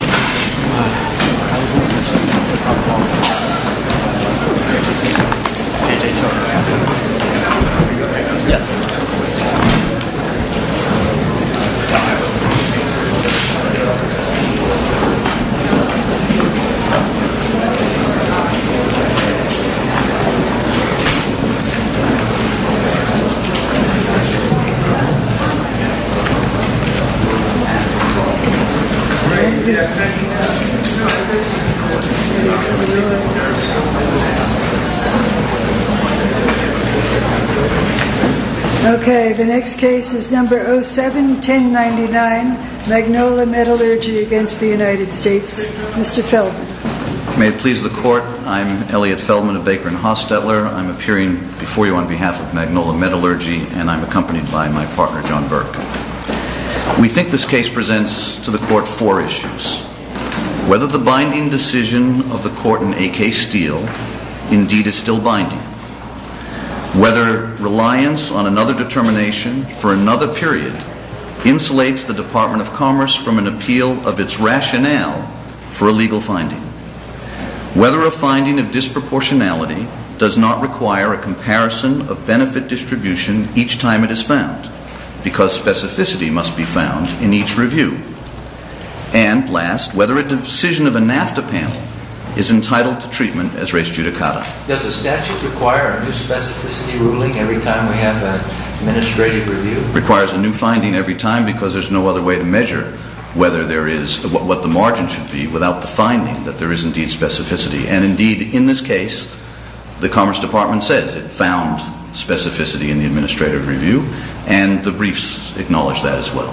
Pitching. Okay, the next case is number 07-1099, Magnola Metallurgy against the United States. Mr. Feldman. May it please the court, I'm Elliot Feldman of Baker & Hostetler, I'm appearing before you on behalf of Magnola Metallurgy and I'm accompanied by my partner, John Burke. We think this case presents to the court four issues. Whether the binding decision of the court in A.K. Steele indeed is still binding. Whether reliance on another determination for another period insulates the Department of Commerce from an appeal of its rationale for a legal finding. Whether a finding of disproportionality does not require a comparison of benefit distribution each time it is found, because specificity must be found in each review. And last, whether a decision of a NAFTA panel is entitled to treatment as res judicata. Does the statute require a new specificity ruling every time we have an administrative review? Requires a new finding every time because there's no other way to measure whether there is, what the margin should be without the finding that there is indeed specificity. And indeed, in this case, the Commerce Department says it found specificity in the administrative review and the briefs acknowledge that as well.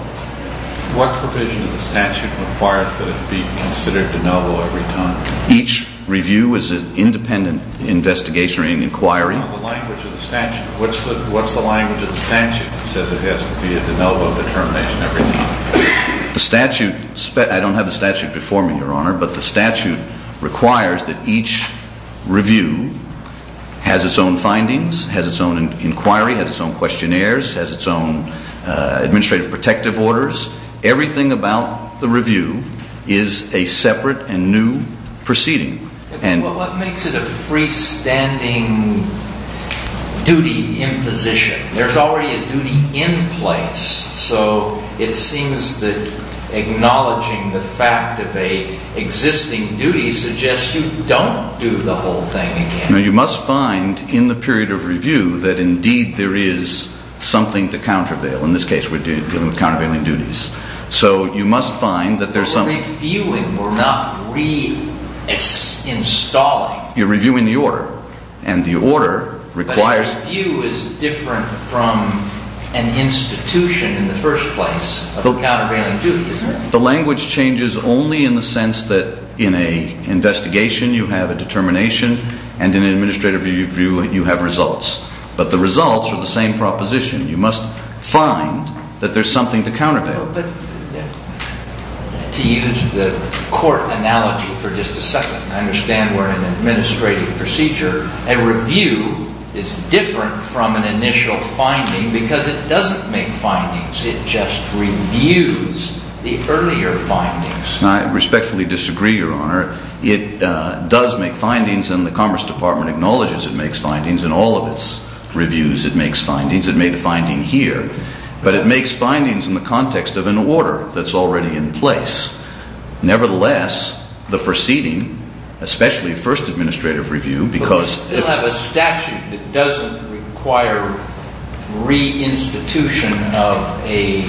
What provision of the statute requires that it be considered de novo every time? Each review is an independent investigation or inquiry. What's the language of the statute that says it has to be a de novo determination every time? I don't have the statute before me, Your Honor, but the statute requires that each review has its own findings, has its own inquiry, has its own questionnaires, has its own administrative protective orders. Everything about the review is a separate and new proceeding. What makes it a freestanding duty in position? There's already a duty in place. So it seems that acknowledging the fact of a existing duty suggests you don't do the whole thing again. Now, you must find in the period of review that indeed there is something to countervail. In this case, we're dealing with countervailing duties. So you must find that there's some... We're reviewing. We're not re-installing. You're reviewing the order. And the order requires... But a review is different from an institution in the first place of a countervailing duty, isn't it? The language changes only in the sense that in an investigation you have a determination and in an administrative review you have results. But the results are the same proposition. You must find that there's something to countervail. But to use the court analogy for just a second, I understand we're in an administrative procedure. A review is different from an initial finding because it doesn't make findings. It just reviews the earlier findings. And I respectfully disagree, Your Honor. It does make findings and the Commerce Department acknowledges it makes findings in all of its reviews. It makes findings. It made a finding here. But it makes findings in the context of an order that's already in place. Nevertheless, the proceeding, especially first administrative review, because... But we still have a statute that doesn't require re-institution of a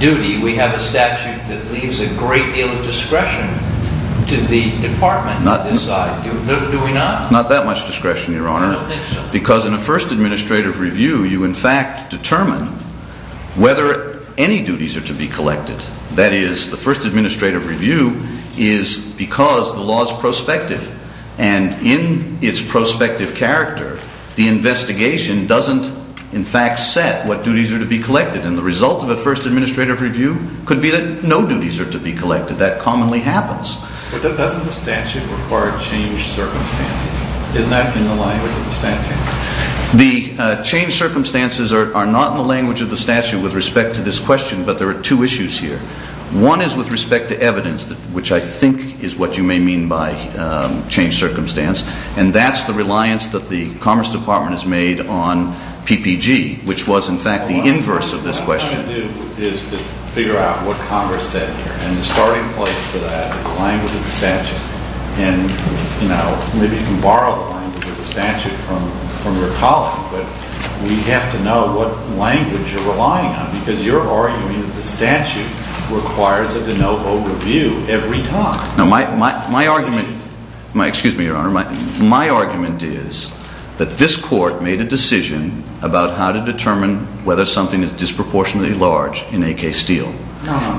duty. We have a statute that leaves a great deal of discretion to the department to decide. Do we not? Not that much discretion, Your Honor. I don't think so. Because in a first administrative review, you in fact determine whether any duties are to be collected. That is, the first administrative review is because the law is prospective. And in its prospective character, the investigation doesn't in fact set what duties are to be collected. And the result of a first administrative review could be that no duties are to be collected. That commonly happens. But doesn't the statute require changed circumstances? Isn't that in the language of the statute? The changed circumstances are not in the language of the statute with respect to this question. But there are two issues here. One is with respect to evidence, which I think is what you may mean by changed circumstance. And that's the reliance that the Commerce Department has made on PPG, which was in fact the inverse of this question. What I'm going to do is to figure out what Congress said here. And the starting place for that is the language of the statute. And maybe you can borrow the language of the statute from your colleague. But we have to know what language you're relying on. Because you're arguing that the statute requires a de novo review every time. No, my argument is that this court made a decision about how to determine whether something is disproportionately large in a case deal.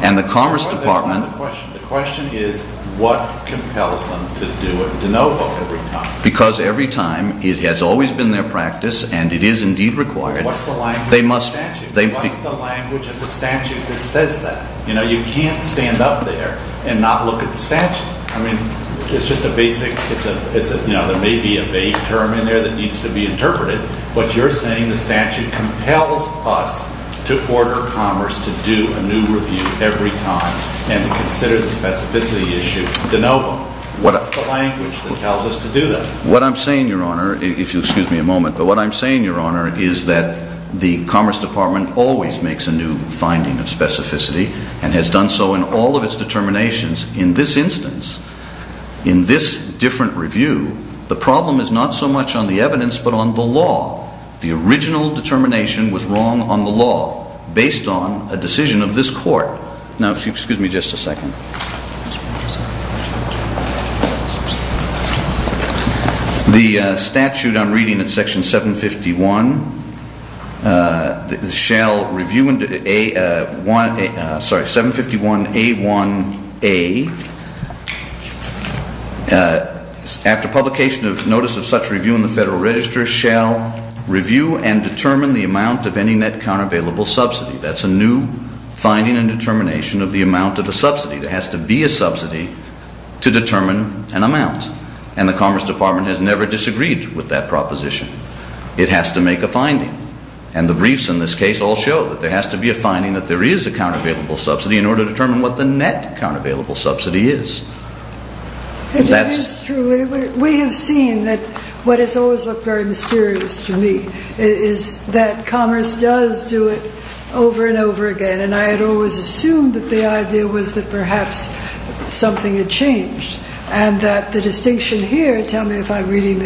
And the Commerce Department The question is what compels them to do a de novo every time. Because every time, it has always been their practice, and it is indeed required, they must What's the language of the statute? What's the language of the statute that says that? You know, you can't stand up there and not look at the statute. I mean, it's just a basic, you know, there may be a vague term in there that needs to be interpreted. But you're saying the statute compels us to order Commerce to do a new review every time and consider the specificity issue de novo. What's the language that tells us to do that? What I'm saying, Your Honor, if you'll excuse me a moment. But what I'm saying, Your Honor, is that the Commerce Department always makes a new finding of specificity and has done so in all of its determinations. In this instance, in this different review, the problem is not so much on the evidence but on the law. The original determination was wrong on the law based on a decision of this court. Now, if you'll excuse me just a second. The statute I'm reading in Section 751 shall review into A1A, sorry, 751A1A, after publication of notice of such review in the Federal Register, shall review and determine the amount of any net countervailable subsidy. That's a new finding and determination of the amount of a subsidy. There has to be a subsidy to determine an amount. And the Commerce Department has never disagreed with that proposition. It has to make a finding. And the briefs in this case all show that there has to be a finding that there is a countervailable subsidy in order to determine what the net countervailable subsidy is. That is true. We have seen that what has always looked very mysterious to me is that Commerce does do it over and over again. And I had always assumed that the idea was that perhaps something had changed. And that the distinction here, tell me if I'm reading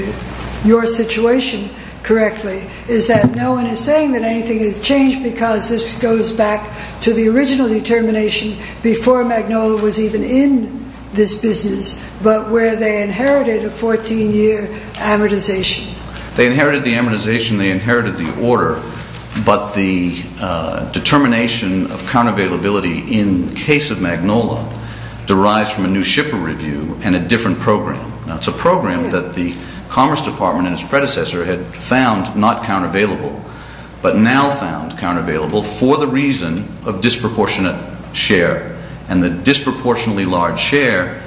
your situation correctly, is that no one is saying that anything has changed because this goes back to the original determination before Magnolia was even in this business but where they inherited a 14-year amortization. They inherited the amortization. They inherited the order. But the determination of countervailability in the case of Magnolia derives from a new shipper review and a different program. Now, it's a program that the Commerce Department and its predecessor had found not countervailable but now found countervailable for the reason of disproportionate share. And the disproportionately large share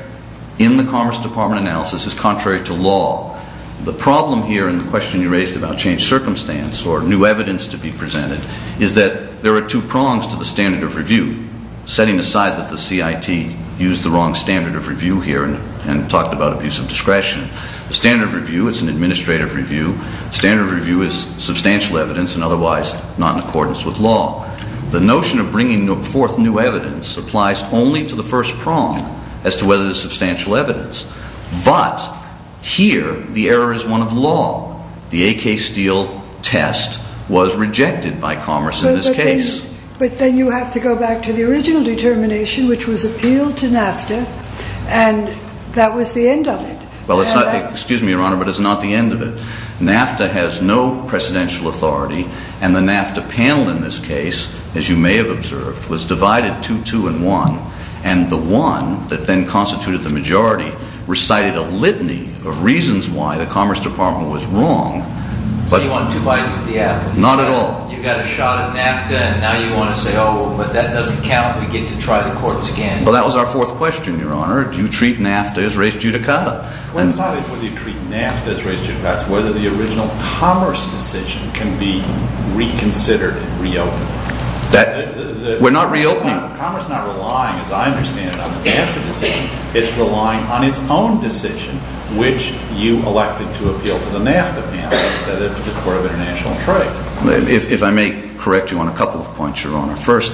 in the Commerce Department analysis is contrary to law. The problem here in the question you raised about changed circumstance or new evidence to be presented is that there are two prongs to the standard of review, setting aside that the CIT used the wrong standard of review here and talked about abuse of discretion. The standard of review is an administrative review. The standard of review is substantial evidence and otherwise not in accordance with law. The notion of bringing forth new evidence applies only to the first prong as to whether there's substantial evidence. But here the error is one of law. The A.K. Steele test was rejected by Commerce in this case. But then you have to go back to the original determination, which was appealed to NAFTA, and that was the end of it. Well, excuse me, Your Honor, but it's not the end of it. NAFTA has no presidential authority, and the NAFTA panel in this case, as you may have observed, was divided two, two, and one, and the one that then constituted the majority recited a litany of reasons why the Commerce Department was wrong. So you want two bites of the apple? Not at all. You got a shot at NAFTA, and now you want to say, oh, well, but that doesn't count. We get to try the courts again. Well, that was our fourth question, Your Honor. Do you treat NAFTA as res judicata? Well, it's not whether you treat NAFTA as res judicata. It's whether the original Commerce decision can be reconsidered and reopened. We're not reopening. Commerce is not relying, as I understand it, on the NAFTA decision. It's relying on its own decision, which you elected to appeal to the NAFTA panel instead of the Court of International Trade. If I may correct you on a couple of points, Your Honor. First,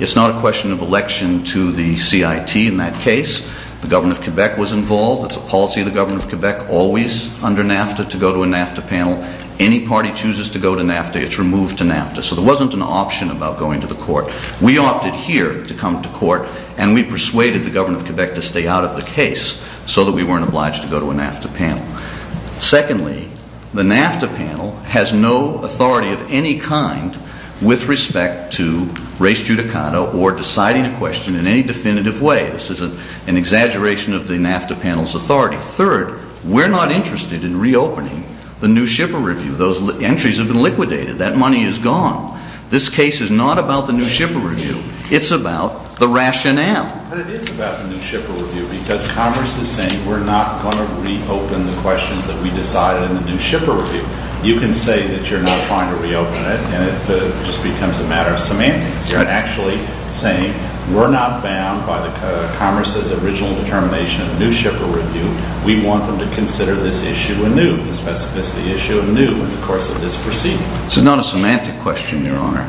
it's not a question of election to the CIT in that case. The government of Quebec was involved. It's a policy of the government of Quebec, always under NAFTA, to go to a NAFTA panel. Any party chooses to go to NAFTA, it's removed to NAFTA. So there wasn't an option about going to the court. We opted here to come to court, and we persuaded the government of Quebec to stay out of the case so that we weren't obliged to go to a NAFTA panel. Secondly, the NAFTA panel has no authority of any kind with respect to res judicata or deciding a question in any definitive way. This is an exaggeration of the NAFTA panel's authority. Third, we're not interested in reopening the New Shipper Review. Those entries have been liquidated. That money is gone. This case is not about the New Shipper Review. It's about the rationale. But it is about the New Shipper Review because Congress is saying we're not going to reopen the questions that we decided in the New Shipper Review. You can say that you're not trying to reopen it, and it just becomes a matter of semantics. You're actually saying we're not bound by Congress's original determination of the New Shipper Review. We want them to consider this issue anew, in the course of this proceeding. It's not a semantic question, Your Honor.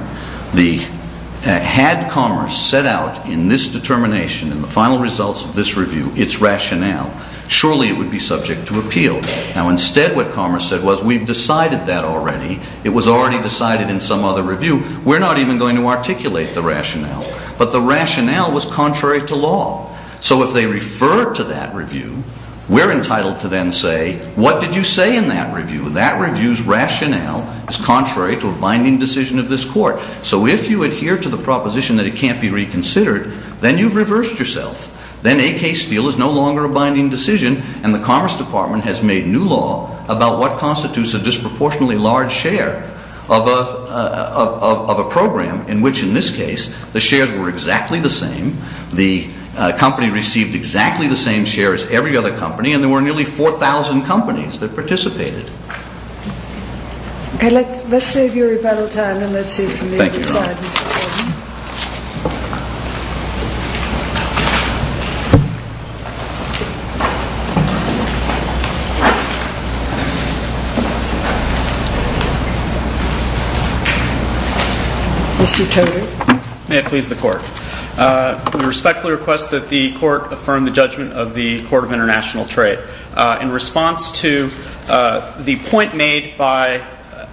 Had Congress set out in this determination, in the final results of this review, its rationale, surely it would be subject to appeal. Now instead what Congress said was, we've decided that already. It was already decided in some other review. We're not even going to articulate the rationale. But the rationale was contrary to law. So if they refer to that review, we're entitled to then say, what did you say in that review? That review's rationale is contrary to a binding decision of this court. So if you adhere to the proposition that it can't be reconsidered, then you've reversed yourself. Then a case deal is no longer a binding decision, and the Commerce Department has made new law about what constitutes a disproportionately large share of a program in which, in this case, the shares were exactly the same, the company received exactly the same share as every other company, and there were nearly 4,000 companies that participated. Okay, let's save your rebuttal time, and let's hear from the other side, Mr. Gordon. Thank you, Your Honor. Mr. Toder. May it please the Court. We respectfully request that the Court affirm the judgment of the Court of International Trade. In response to the point made by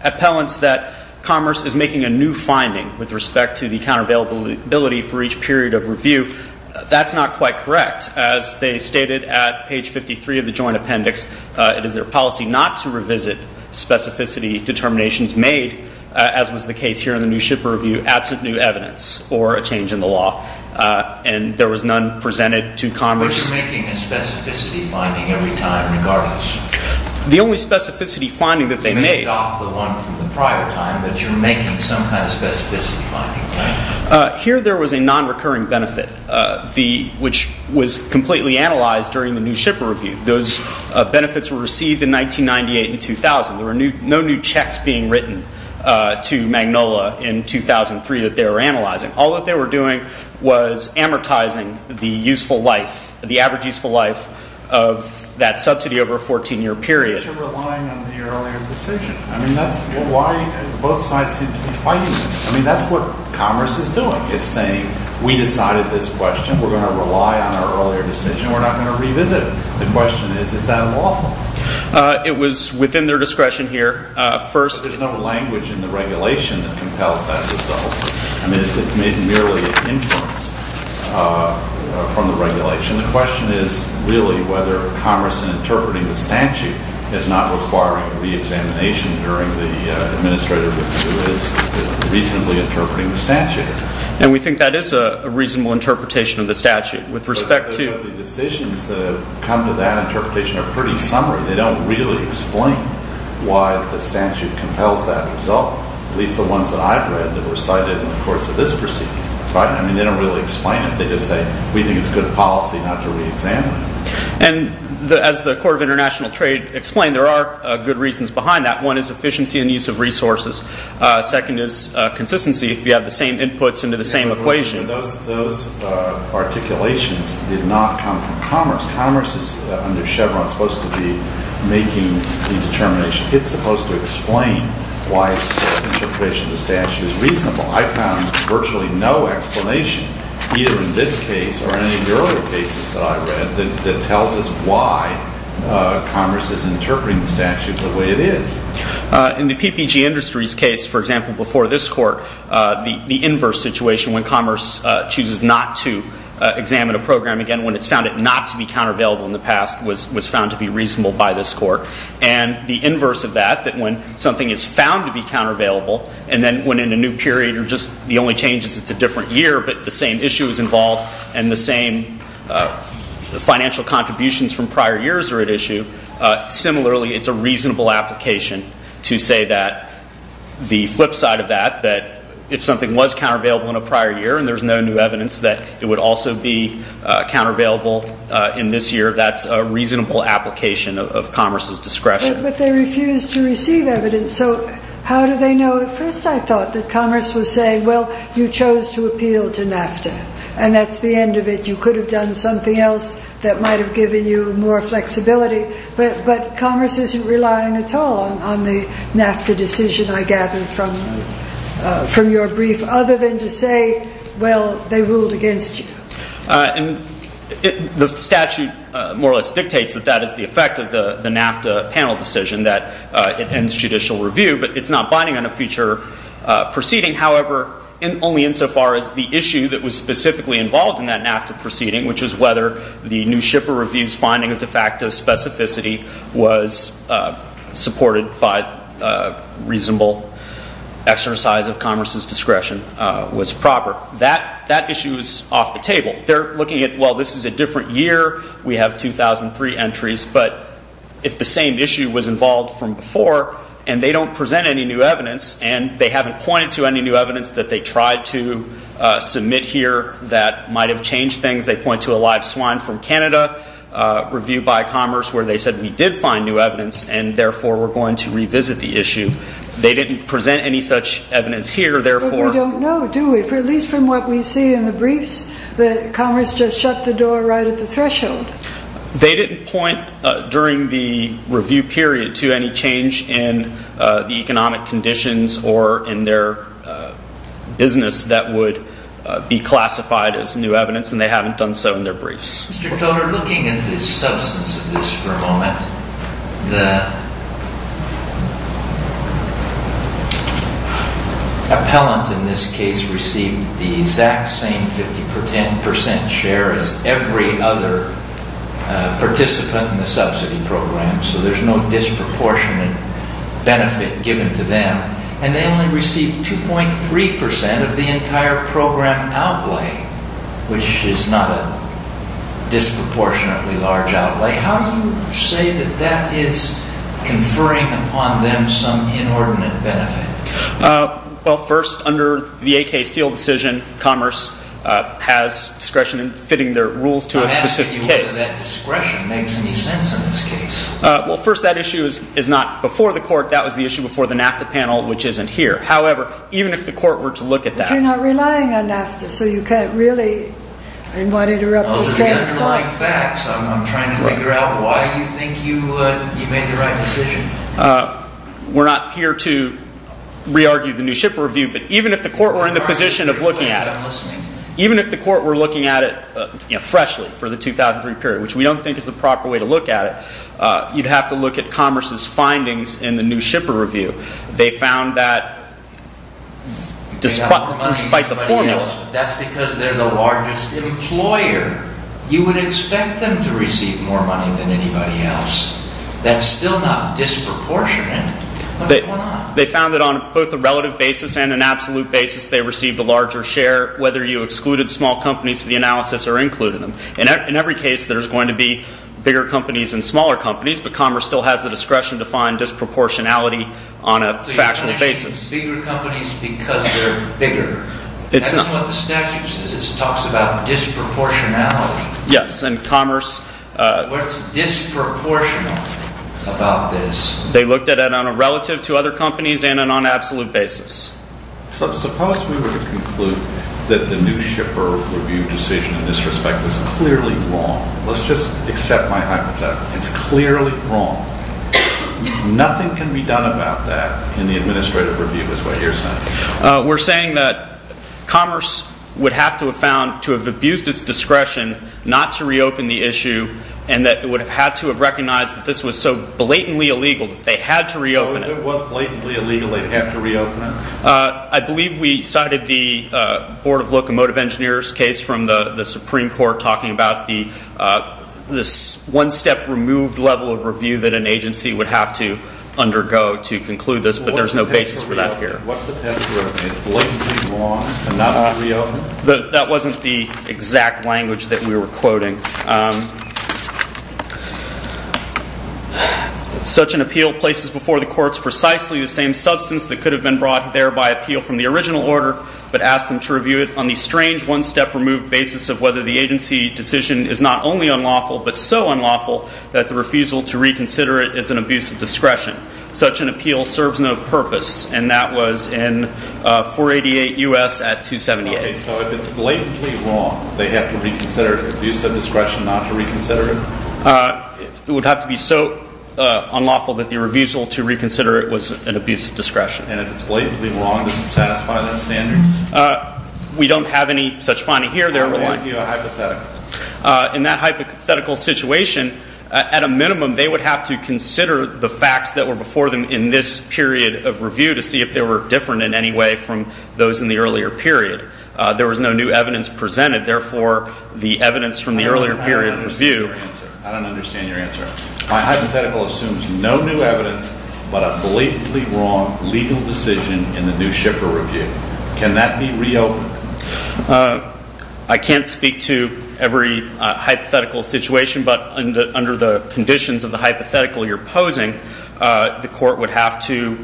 appellants that Commerce is making a new finding with respect to the counter-availability for each period of review, that's not quite correct. As they stated at page 53 of the Joint Appendix, it is their policy not to revisit specificity determinations made, as was the case here in the New Shipper Review, absent new evidence or a change in the law. And there was none presented to Commerce. But you're making a specificity finding every time regardless. The only specificity finding that they made... You may adopt the one from the prior time, but you're making some kind of specificity finding, right? Here there was a non-recurring benefit, which was completely analyzed during the New Shipper Review. Those benefits were received in 1998 and 2000. There were no new checks being written to Magnolia in 2003 that they were analyzing. All that they were doing was amortizing the useful life, the average useful life of that subsidy over a 14-year period. But you're relying on the earlier decision. I mean, that's why both sides seem to be fighting. I mean, that's what Commerce is doing. It's saying, we decided this question. We're going to rely on our earlier decision. We're not going to revisit it. The question is, is that lawful? It was within their discretion here. There's no language in the regulation that compels that result. I mean, it's made merely inference from the regulation. The question is really whether Commerce in interpreting the statute is not requiring re-examination during the administrator review is reasonably interpreting the statute. And we think that is a reasonable interpretation of the statute. But the decisions that have come to that interpretation are pretty summary. They don't really explain why the statute compels that result, at least the ones that I've read that were cited in the courts of this proceeding. I mean, they don't really explain it. They just say, we think it's good policy not to re-examine it. And as the Court of International Trade explained, there are good reasons behind that. One is efficiency and use of resources. Second is consistency, if you have the same inputs into the same equation. Those articulations did not come from Commerce. Commerce is, under Chevron, supposed to be making the determination. It's supposed to explain why its interpretation of the statute is reasonable. I found virtually no explanation, either in this case or any of the earlier cases that I read, that tells us why Commerce is interpreting the statute the way it is. In the PPG Industries case, for example, before this court, the inverse situation when Commerce chooses not to examine a program again, when it's found it not to be countervailable in the past, was found to be reasonable by this court. And the inverse of that, that when something is found to be countervailable, and then when in a new period or just the only change is it's a different year, but the same issue is involved and the same financial contributions from prior years are at issue, similarly, it's a reasonable application to say that the flip side of that, that if something was countervailable in a prior year and there's no new evidence that it would also be countervailable in this year, that's a reasonable application of Commerce's discretion. But they refuse to receive evidence, so how do they know? At first I thought that Commerce was saying, well, you chose to appeal to NAFTA, and that's the end of it. You could have done something else that might have given you more flexibility, but Commerce isn't relying at all on the NAFTA decision I gathered from your brief, other than to say, well, they ruled against you. The statute more or less dictates that that is the effect of the NAFTA panel decision, that it ends judicial review, but it's not binding on a future proceeding. However, only insofar as the issue that was specifically involved in that NAFTA proceeding, which is whether the New Shipper Review's finding of de facto specificity was supported by reasonable exercise of Commerce's discretion was proper. That issue is off the table. They're looking at, well, this is a different year, we have 2003 entries, but if the same issue was involved from before, and they don't present any new evidence, and they haven't pointed to any new evidence that they tried to submit here that might have changed things. They point to a live swine from Canada, reviewed by Commerce, where they said we did find new evidence, and therefore we're going to revisit the issue. They didn't present any such evidence here, therefore. We don't know, do we? At least from what we see in the briefs that Commerce just shut the door right at the threshold. They didn't point during the review period to any change in the economic conditions or in their business that would be classified as new evidence, and they haven't done so in their briefs. Mr. Toter, looking at the substance of this for a moment, the appellant in this case received the exact same 50% share as every other participant in the subsidy program, so there's no disproportionate benefit given to them, and they only received 2.3% of the entire program outlay, which is not a disproportionately large outlay. How do you say that that is conferring upon them some inordinate benefit? Well, first, under the AK Steele decision, Commerce has discretion in fitting their rules to a specific case. I'm asking you whether that discretion makes any sense in this case. That was the issue before the NAFTA panel, which isn't here. However, even if the court were to look at that- But you're not relying on NAFTA, so you can't really- Those are the underlying facts. I'm trying to figure out why you think you made the right decision. We're not here to re-argue the new ship review, but even if the court were in the position of looking at it, even if the court were looking at it freshly for the 2003 period, which we don't think is the proper way to look at it, you'd have to look at Commerce's findings in the new shipper review. They found that despite the formulas- That's because they're the largest employer. You would expect them to receive more money than anybody else. That's still not disproportionate. What's going on? They found that on both a relative basis and an absolute basis, they received a larger share whether you excluded small companies from the analysis or included them. In every case, there's going to be bigger companies and smaller companies, but Commerce still has the discretion to find disproportionality on a factual basis. So you're saying it's bigger companies because they're bigger. That's what the statute says. It talks about disproportionality. Yes, and Commerce- What's disproportional about this? They looked at it on a relative to other companies and on an absolute basis. Suppose we were to conclude that the new shipper review decision in this respect is clearly wrong. Let's just accept my hypothetical. It's clearly wrong. Nothing can be done about that in the administrative review is what you're saying. We're saying that Commerce would have to have found to have abused its discretion not to reopen the issue and that it would have had to have recognized that this was so blatantly illegal that they had to reopen it. So if it was blatantly illegal, they'd have to reopen it? I believe we cited the Board of Locomotive Engineers case from the Supreme Court talking about the one-step removed level of review that an agency would have to undergo to conclude this, but there's no basis for that here. What's the test for reopening? Is blatantly wrong and not going to reopen? That wasn't the exact language that we were quoting. Such an appeal places before the courts precisely the same substance that could have been brought there by appeal from the original order, but asked them to review it on the strange one-step removed basis of whether the agency decision is not only unlawful, but so unlawful that the refusal to reconsider it is an abuse of discretion. Such an appeal serves no purpose, and that was in 488 U.S. at 278. So if it's blatantly wrong, they have to reconsider it, abuse of discretion, not to reconsider it? It would have to be so unlawful that the refusal to reconsider it was an abuse of discretion. And if it's blatantly wrong, does it satisfy that standard? We don't have any such finding here. We're asking you a hypothetical. In that hypothetical situation, at a minimum, they would have to consider the facts that were before them in this period of review to see if they were different in any way from those in the earlier period. There was no new evidence presented. Therefore, the evidence from the earlier period of review. I don't understand your answer. My hypothetical assumes no new evidence, but a blatantly wrong legal decision in the new shipper review. Can that be reopened? I can't speak to every hypothetical situation, but under the conditions of the hypothetical you're posing, the court would have to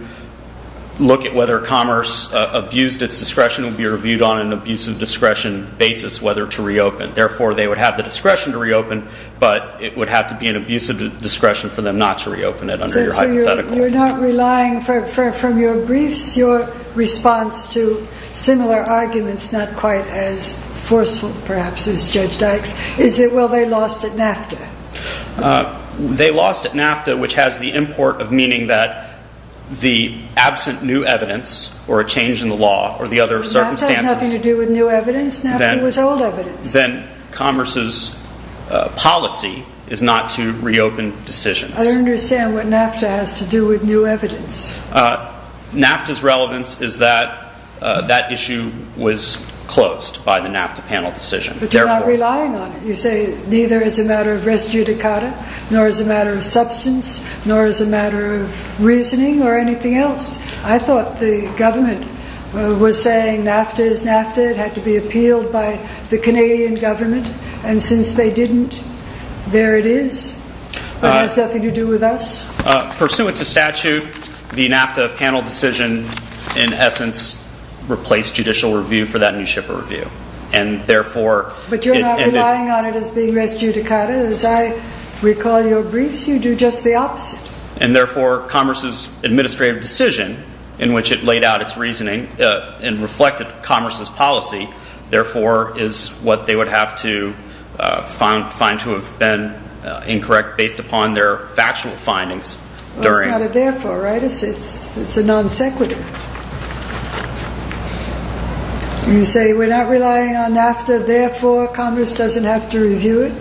look at whether commerce abused its discretion and be reviewed on an abuse of discretion basis whether to reopen. Therefore, they would have the discretion to reopen, but it would have to be an abuse of discretion for them not to reopen it under your hypothetical. So you're not relying from your briefs, your response to similar arguments, not quite as forceful, perhaps, as Judge Dykes. Is it, well, they lost at NAFTA? They lost at NAFTA, which has the import of meaning that the absent new evidence or a change in the law or the other circumstances. NAFTA has nothing to do with new evidence. NAFTA was old evidence. Then commerce's policy is not to reopen decisions. I don't understand what NAFTA has to do with new evidence. NAFTA's relevance is that that issue was closed by the NAFTA panel decision. But you're not relying on it. You say neither as a matter of res judicata nor as a matter of substance nor as a matter of reasoning or anything else. I thought the government was saying NAFTA is NAFTA. It had to be appealed by the Canadian government. And since they didn't, there it is. It has nothing to do with us. Pursuant to statute, the NAFTA panel decision, in essence, replaced judicial review for that new ship of review. But you're not relying on it as being res judicata. As I recall your briefs, you do just the opposite. And, therefore, commerce's administrative decision, in which it laid out its reasoning and reflected commerce's policy, therefore is what they would have to find to have been incorrect based upon their factual findings. It's not a therefore, right? It's a non sequitur. You say we're not relying on NAFTA, therefore commerce doesn't have to review it?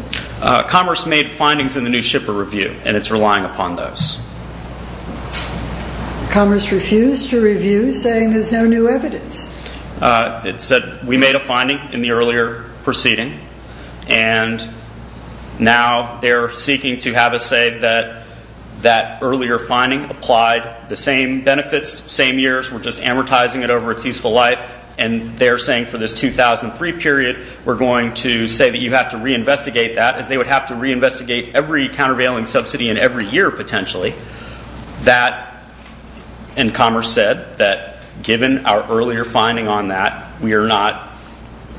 Commerce made findings in the new ship of review, and it's relying upon those. Commerce refused to review, saying there's no new evidence. It said we made a finding in the earlier proceeding, and now they're seeking to have us say that that earlier finding applied the same benefits, same years. We're just amortizing it over its useful life. And they're saying for this 2003 period, we're going to say that you have to reinvestigate that, as they would have to reinvestigate every countervailing subsidy in every year, potentially. That, and commerce said, that given our earlier finding on that, we are not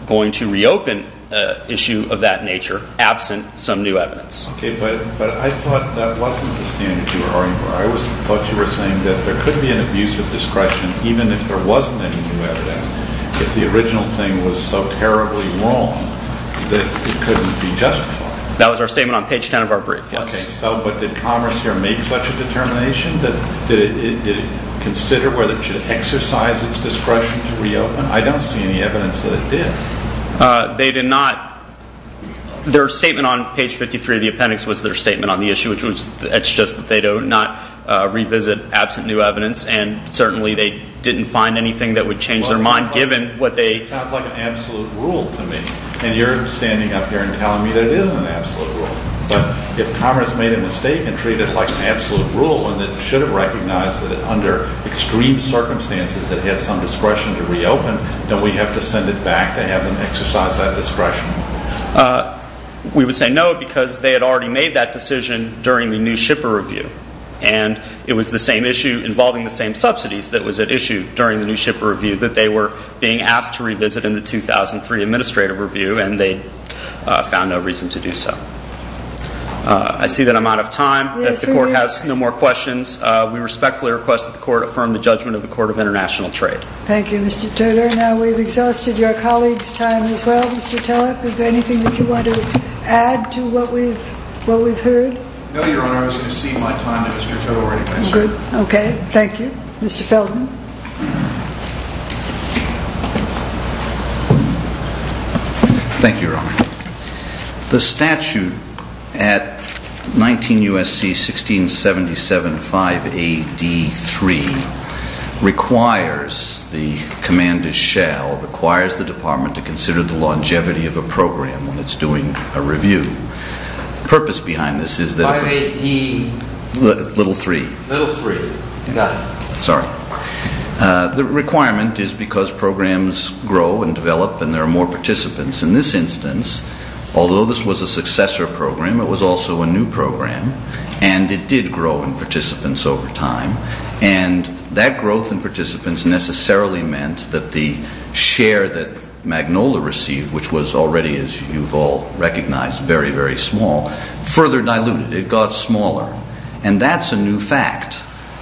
going to reopen an issue of that nature absent some new evidence. Okay, but I thought that wasn't the standard you were arguing for. I thought you were saying that there could be an abuse of discretion, even if there wasn't any new evidence, if the original thing was so terribly wrong that it couldn't be justified. That was our statement on page 10 of our brief, yes. Okay, so but did commerce here make such a determination? Did it consider whether it should exercise its discretion to reopen? I don't see any evidence that it did. They did not. Their statement on page 53 of the appendix was their statement on the issue, which was it's just that they do not revisit absent new evidence, and certainly they didn't find anything that would change their mind, given what they... It sounds like an absolute rule to me, and you're standing up here and telling me that it isn't an absolute rule, but if commerce made a mistake and treated it like an absolute rule and it should have recognized that under extreme circumstances it has some discretion to reopen, don't we have to send it back to have them exercise that discretion? We would say no because they had already made that decision during the new shipper review, and it was the same issue involving the same subsidies that was at issue during the new shipper review that they were being asked to revisit in the 2003 administrative review, and they found no reason to do so. I see that I'm out of time. If the court has no more questions, we respectfully request that the court affirm the judgment of the Court of International Trade. Thank you, Mr. Taylor. Now, we've exhausted your colleagues' time as well. Mr. Taleb, is there anything that you want to add to what we've heard? No, Your Honor. I was going to cede my time to Mr. Taylor. Good. Okay. Thank you. Mr. Feldman. Thank you, Your Honor. The statute at 19 U.S.C. 1677, 5A.D. 3, requires the command to shall, requires the department to consider the longevity of a program when it's doing a review. The purpose behind this is that if a... 5A.D. Little 3. Little 3. You got it. Sorry. The requirement is because programs grow and develop and there are more participants. In this instance, although this was a successor program, it was also a new program, and it did grow in participants over time, and that growth in participants necessarily meant that the share that Magnola received, which was already, as you've all recognized, very, very small, further diluted. It got smaller. And that's a new fact,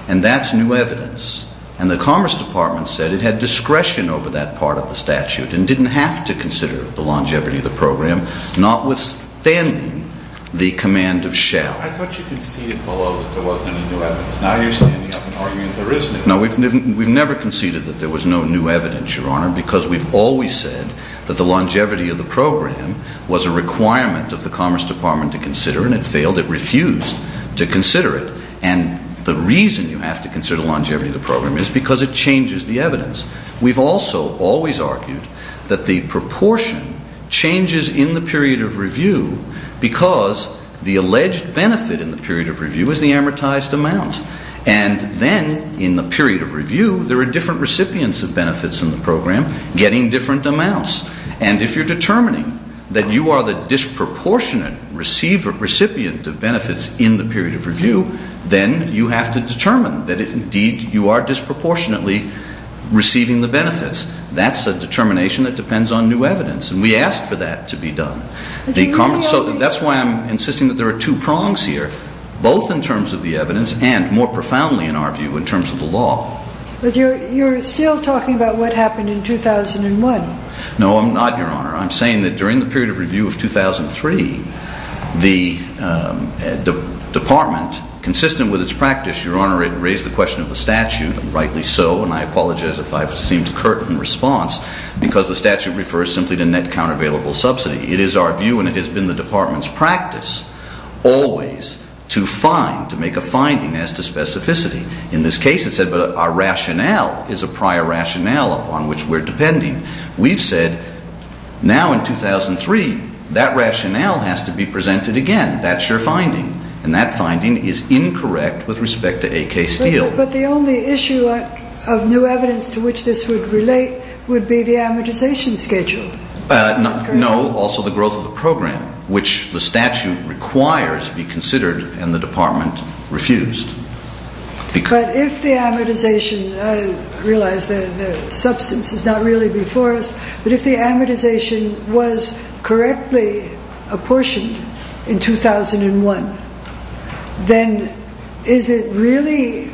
and that's new evidence, and the Commerce Department said it had discretion over that part of the statute and didn't have to consider the longevity of the program, notwithstanding the command of shall. I thought you conceded below that there wasn't any new evidence. Now you're standing up and arguing there is new evidence. No, we've never conceded that there was no new evidence, Your Honor, because we've always said that the longevity of the program was a requirement of the Commerce Department to consider, and it failed. It refused to consider it. And the reason you have to consider longevity of the program is because it changes the evidence. We've also always argued that the proportion changes in the period of review because the alleged benefit in the period of review is the amortized amount. And then, in the period of review, there are different recipients of benefits in the program getting different amounts. And if you're determining that you are the disproportionate recipient of benefits in the period of review, then you have to determine that, indeed, you are disproportionately receiving the benefits. That's a determination that depends on new evidence, and we asked for that to be done. So that's why I'm insisting that there are two prongs here, both in terms of the evidence and, more profoundly in our view, in terms of the law. But you're still talking about what happened in 2001. No, I'm not, Your Honor. I'm saying that during the period of review of 2003, the department, consistent with its practice, Your Honor, it raised the question of the statute, and rightly so, and I apologize if I seem to curtain response, because the statute refers simply to net countervailable subsidy. It is our view, and it has been the department's practice, always to find, to make a finding as to specificity. In this case, it said, but our rationale is a prior rationale upon which we're depending. We've said, now in 2003, that rationale has to be presented again. That's your finding. And that finding is incorrect with respect to A.K. Steele. But the only issue of new evidence to which this would relate would be the amortization schedule. No, also the growth of the program, which the statute requires be considered, and the department refused. But if the amortization, I realize the substance is not really before us, but if the amortization was correctly apportioned in 2001, then is it really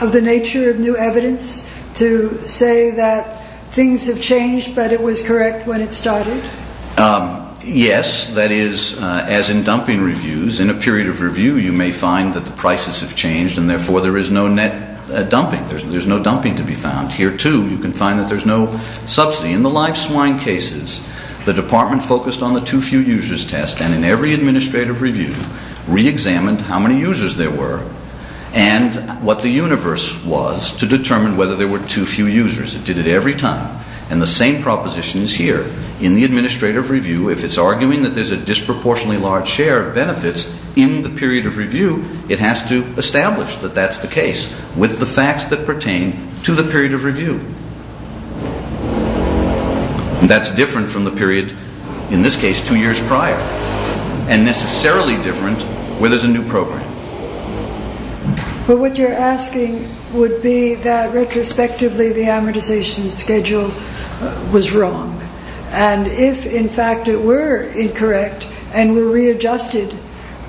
of the nature of new evidence to say that things have changed, but it was correct when it started? Yes, that is, as in dumping reviews, in a period of review you may find that the prices have changed, There's no dumping to be found. Here, too, you can find that there's no subsidy. In the live swine cases, the department focused on the too few users test, and in every administrative review reexamined how many users there were and what the universe was to determine whether there were too few users. It did it every time. And the same proposition is here. In the administrative review, if it's arguing that there's a disproportionately large share of benefits in the period of review, it has to establish that that's the case with the facts that pertain to the period of review. That's different from the period, in this case, two years prior, and necessarily different where there's a new program. But what you're asking would be that, retrospectively, the amortization schedule was wrong. And if, in fact, it were incorrect and were readjusted,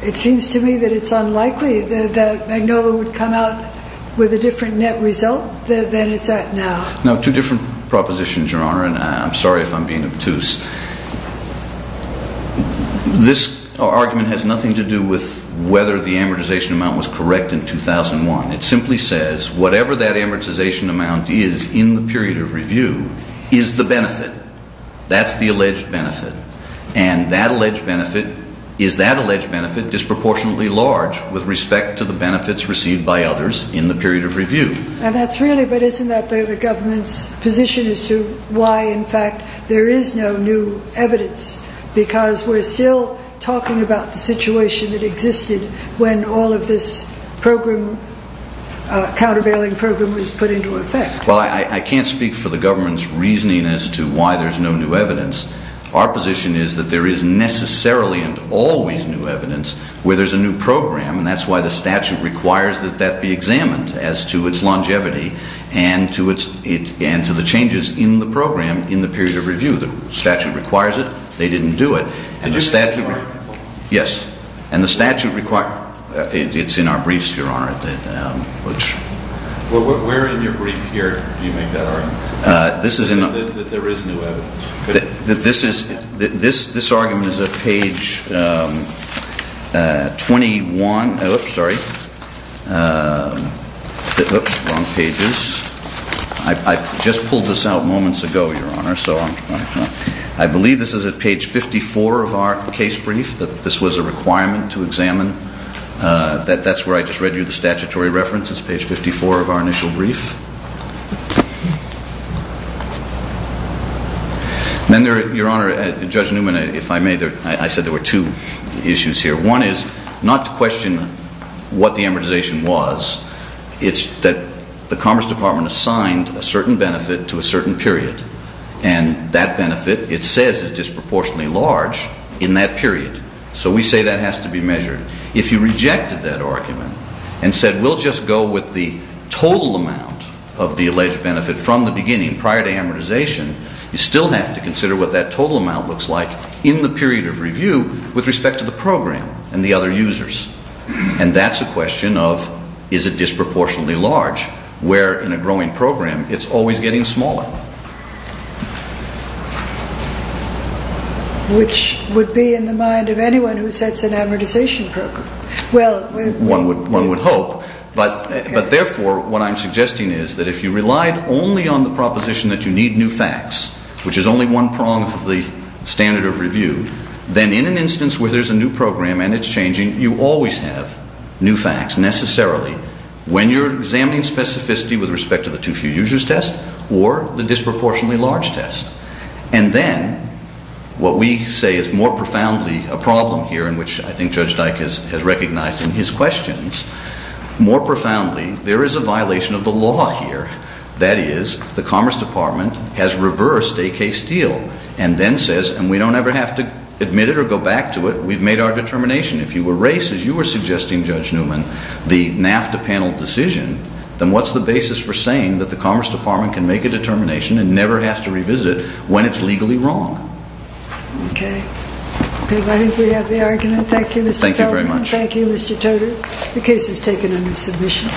it seems to me that it's unlikely that Magnolia would come out with a different net result than it's at now. No, two different propositions, Your Honor, and I'm sorry if I'm being obtuse. This argument has nothing to do with whether the amortization amount was correct in 2001. It simply says, whatever that amortization amount is in the period of review is the benefit. That's the alleged benefit. And that alleged benefit is that alleged benefit is disproportionately large with respect to the benefits received by others in the period of review. And that's really, but isn't that the government's position as to why, in fact, there is no new evidence? Because we're still talking about the situation that existed when all of this program, countervailing program, was put into effect. Well, I can't speak for the government's reasoning as to why there's no new evidence. Our position is that there is necessarily and always new evidence where there's a new program, and that's why the statute requires that that be examined as to its longevity and to the changes in the program in the period of review. The statute requires it. They didn't do it. And the statute requires it. Yes, and the statute requires it. It's in our briefs, Your Honor, which... Well, where in your brief here do you make that argument? This is in... That there is new evidence. This argument is at page 21. Oops, sorry. Oops, wrong pages. I just pulled this out moments ago, Your Honor, so I believe this is at page 54 of our case brief that this was a requirement to examine. That's where I just read you the statutory reference. It's page 54 of our initial brief. Then, Your Honor, Judge Newman, if I may, I said there were two issues here. One is not to question what the amortization was. It's that the Commerce Department assigned a certain benefit to a certain period, and that benefit, it says, is disproportionately large in that period, so we say that has to be measured. If you rejected that argument and said, we'll just go with the total amount of the alleged benefit from the beginning, prior to amortization, you still have to consider what that total amount looks like in the period of review with respect to the program and the other users, and that's a question of, is it disproportionately large, where, in a growing program, it's always getting smaller. Which would be in the mind of anyone who sets an amortization program. Well... One would hope, but therefore, what I'm suggesting is that if you relied only on the proposition that you need new facts, which is only one prong of the standard of review, then in an instance where there's a new program and it's changing, you always have new facts, necessarily, when you're examining specificity with respect to the too-few-users test or the disproportionately large test. And then, what we say is more profoundly a problem here, in which I think Judge Dyke has recognized in his questions, more profoundly, there is a violation of the law here. That is, the Commerce Department has reversed a case deal and then says, and we don't ever have to admit it or go back to it, we've made our determination. If you erase, as you were suggesting, Judge Newman, the NAFTA panel decision, then what's the basis for saying that the Commerce Department can make a determination and never has to revisit it when it's legally wrong? Okay. I think we have the argument. Thank you, Mr. Feldman. Thank you very much. Thank you, Mr. Toder. The case is taken under submission.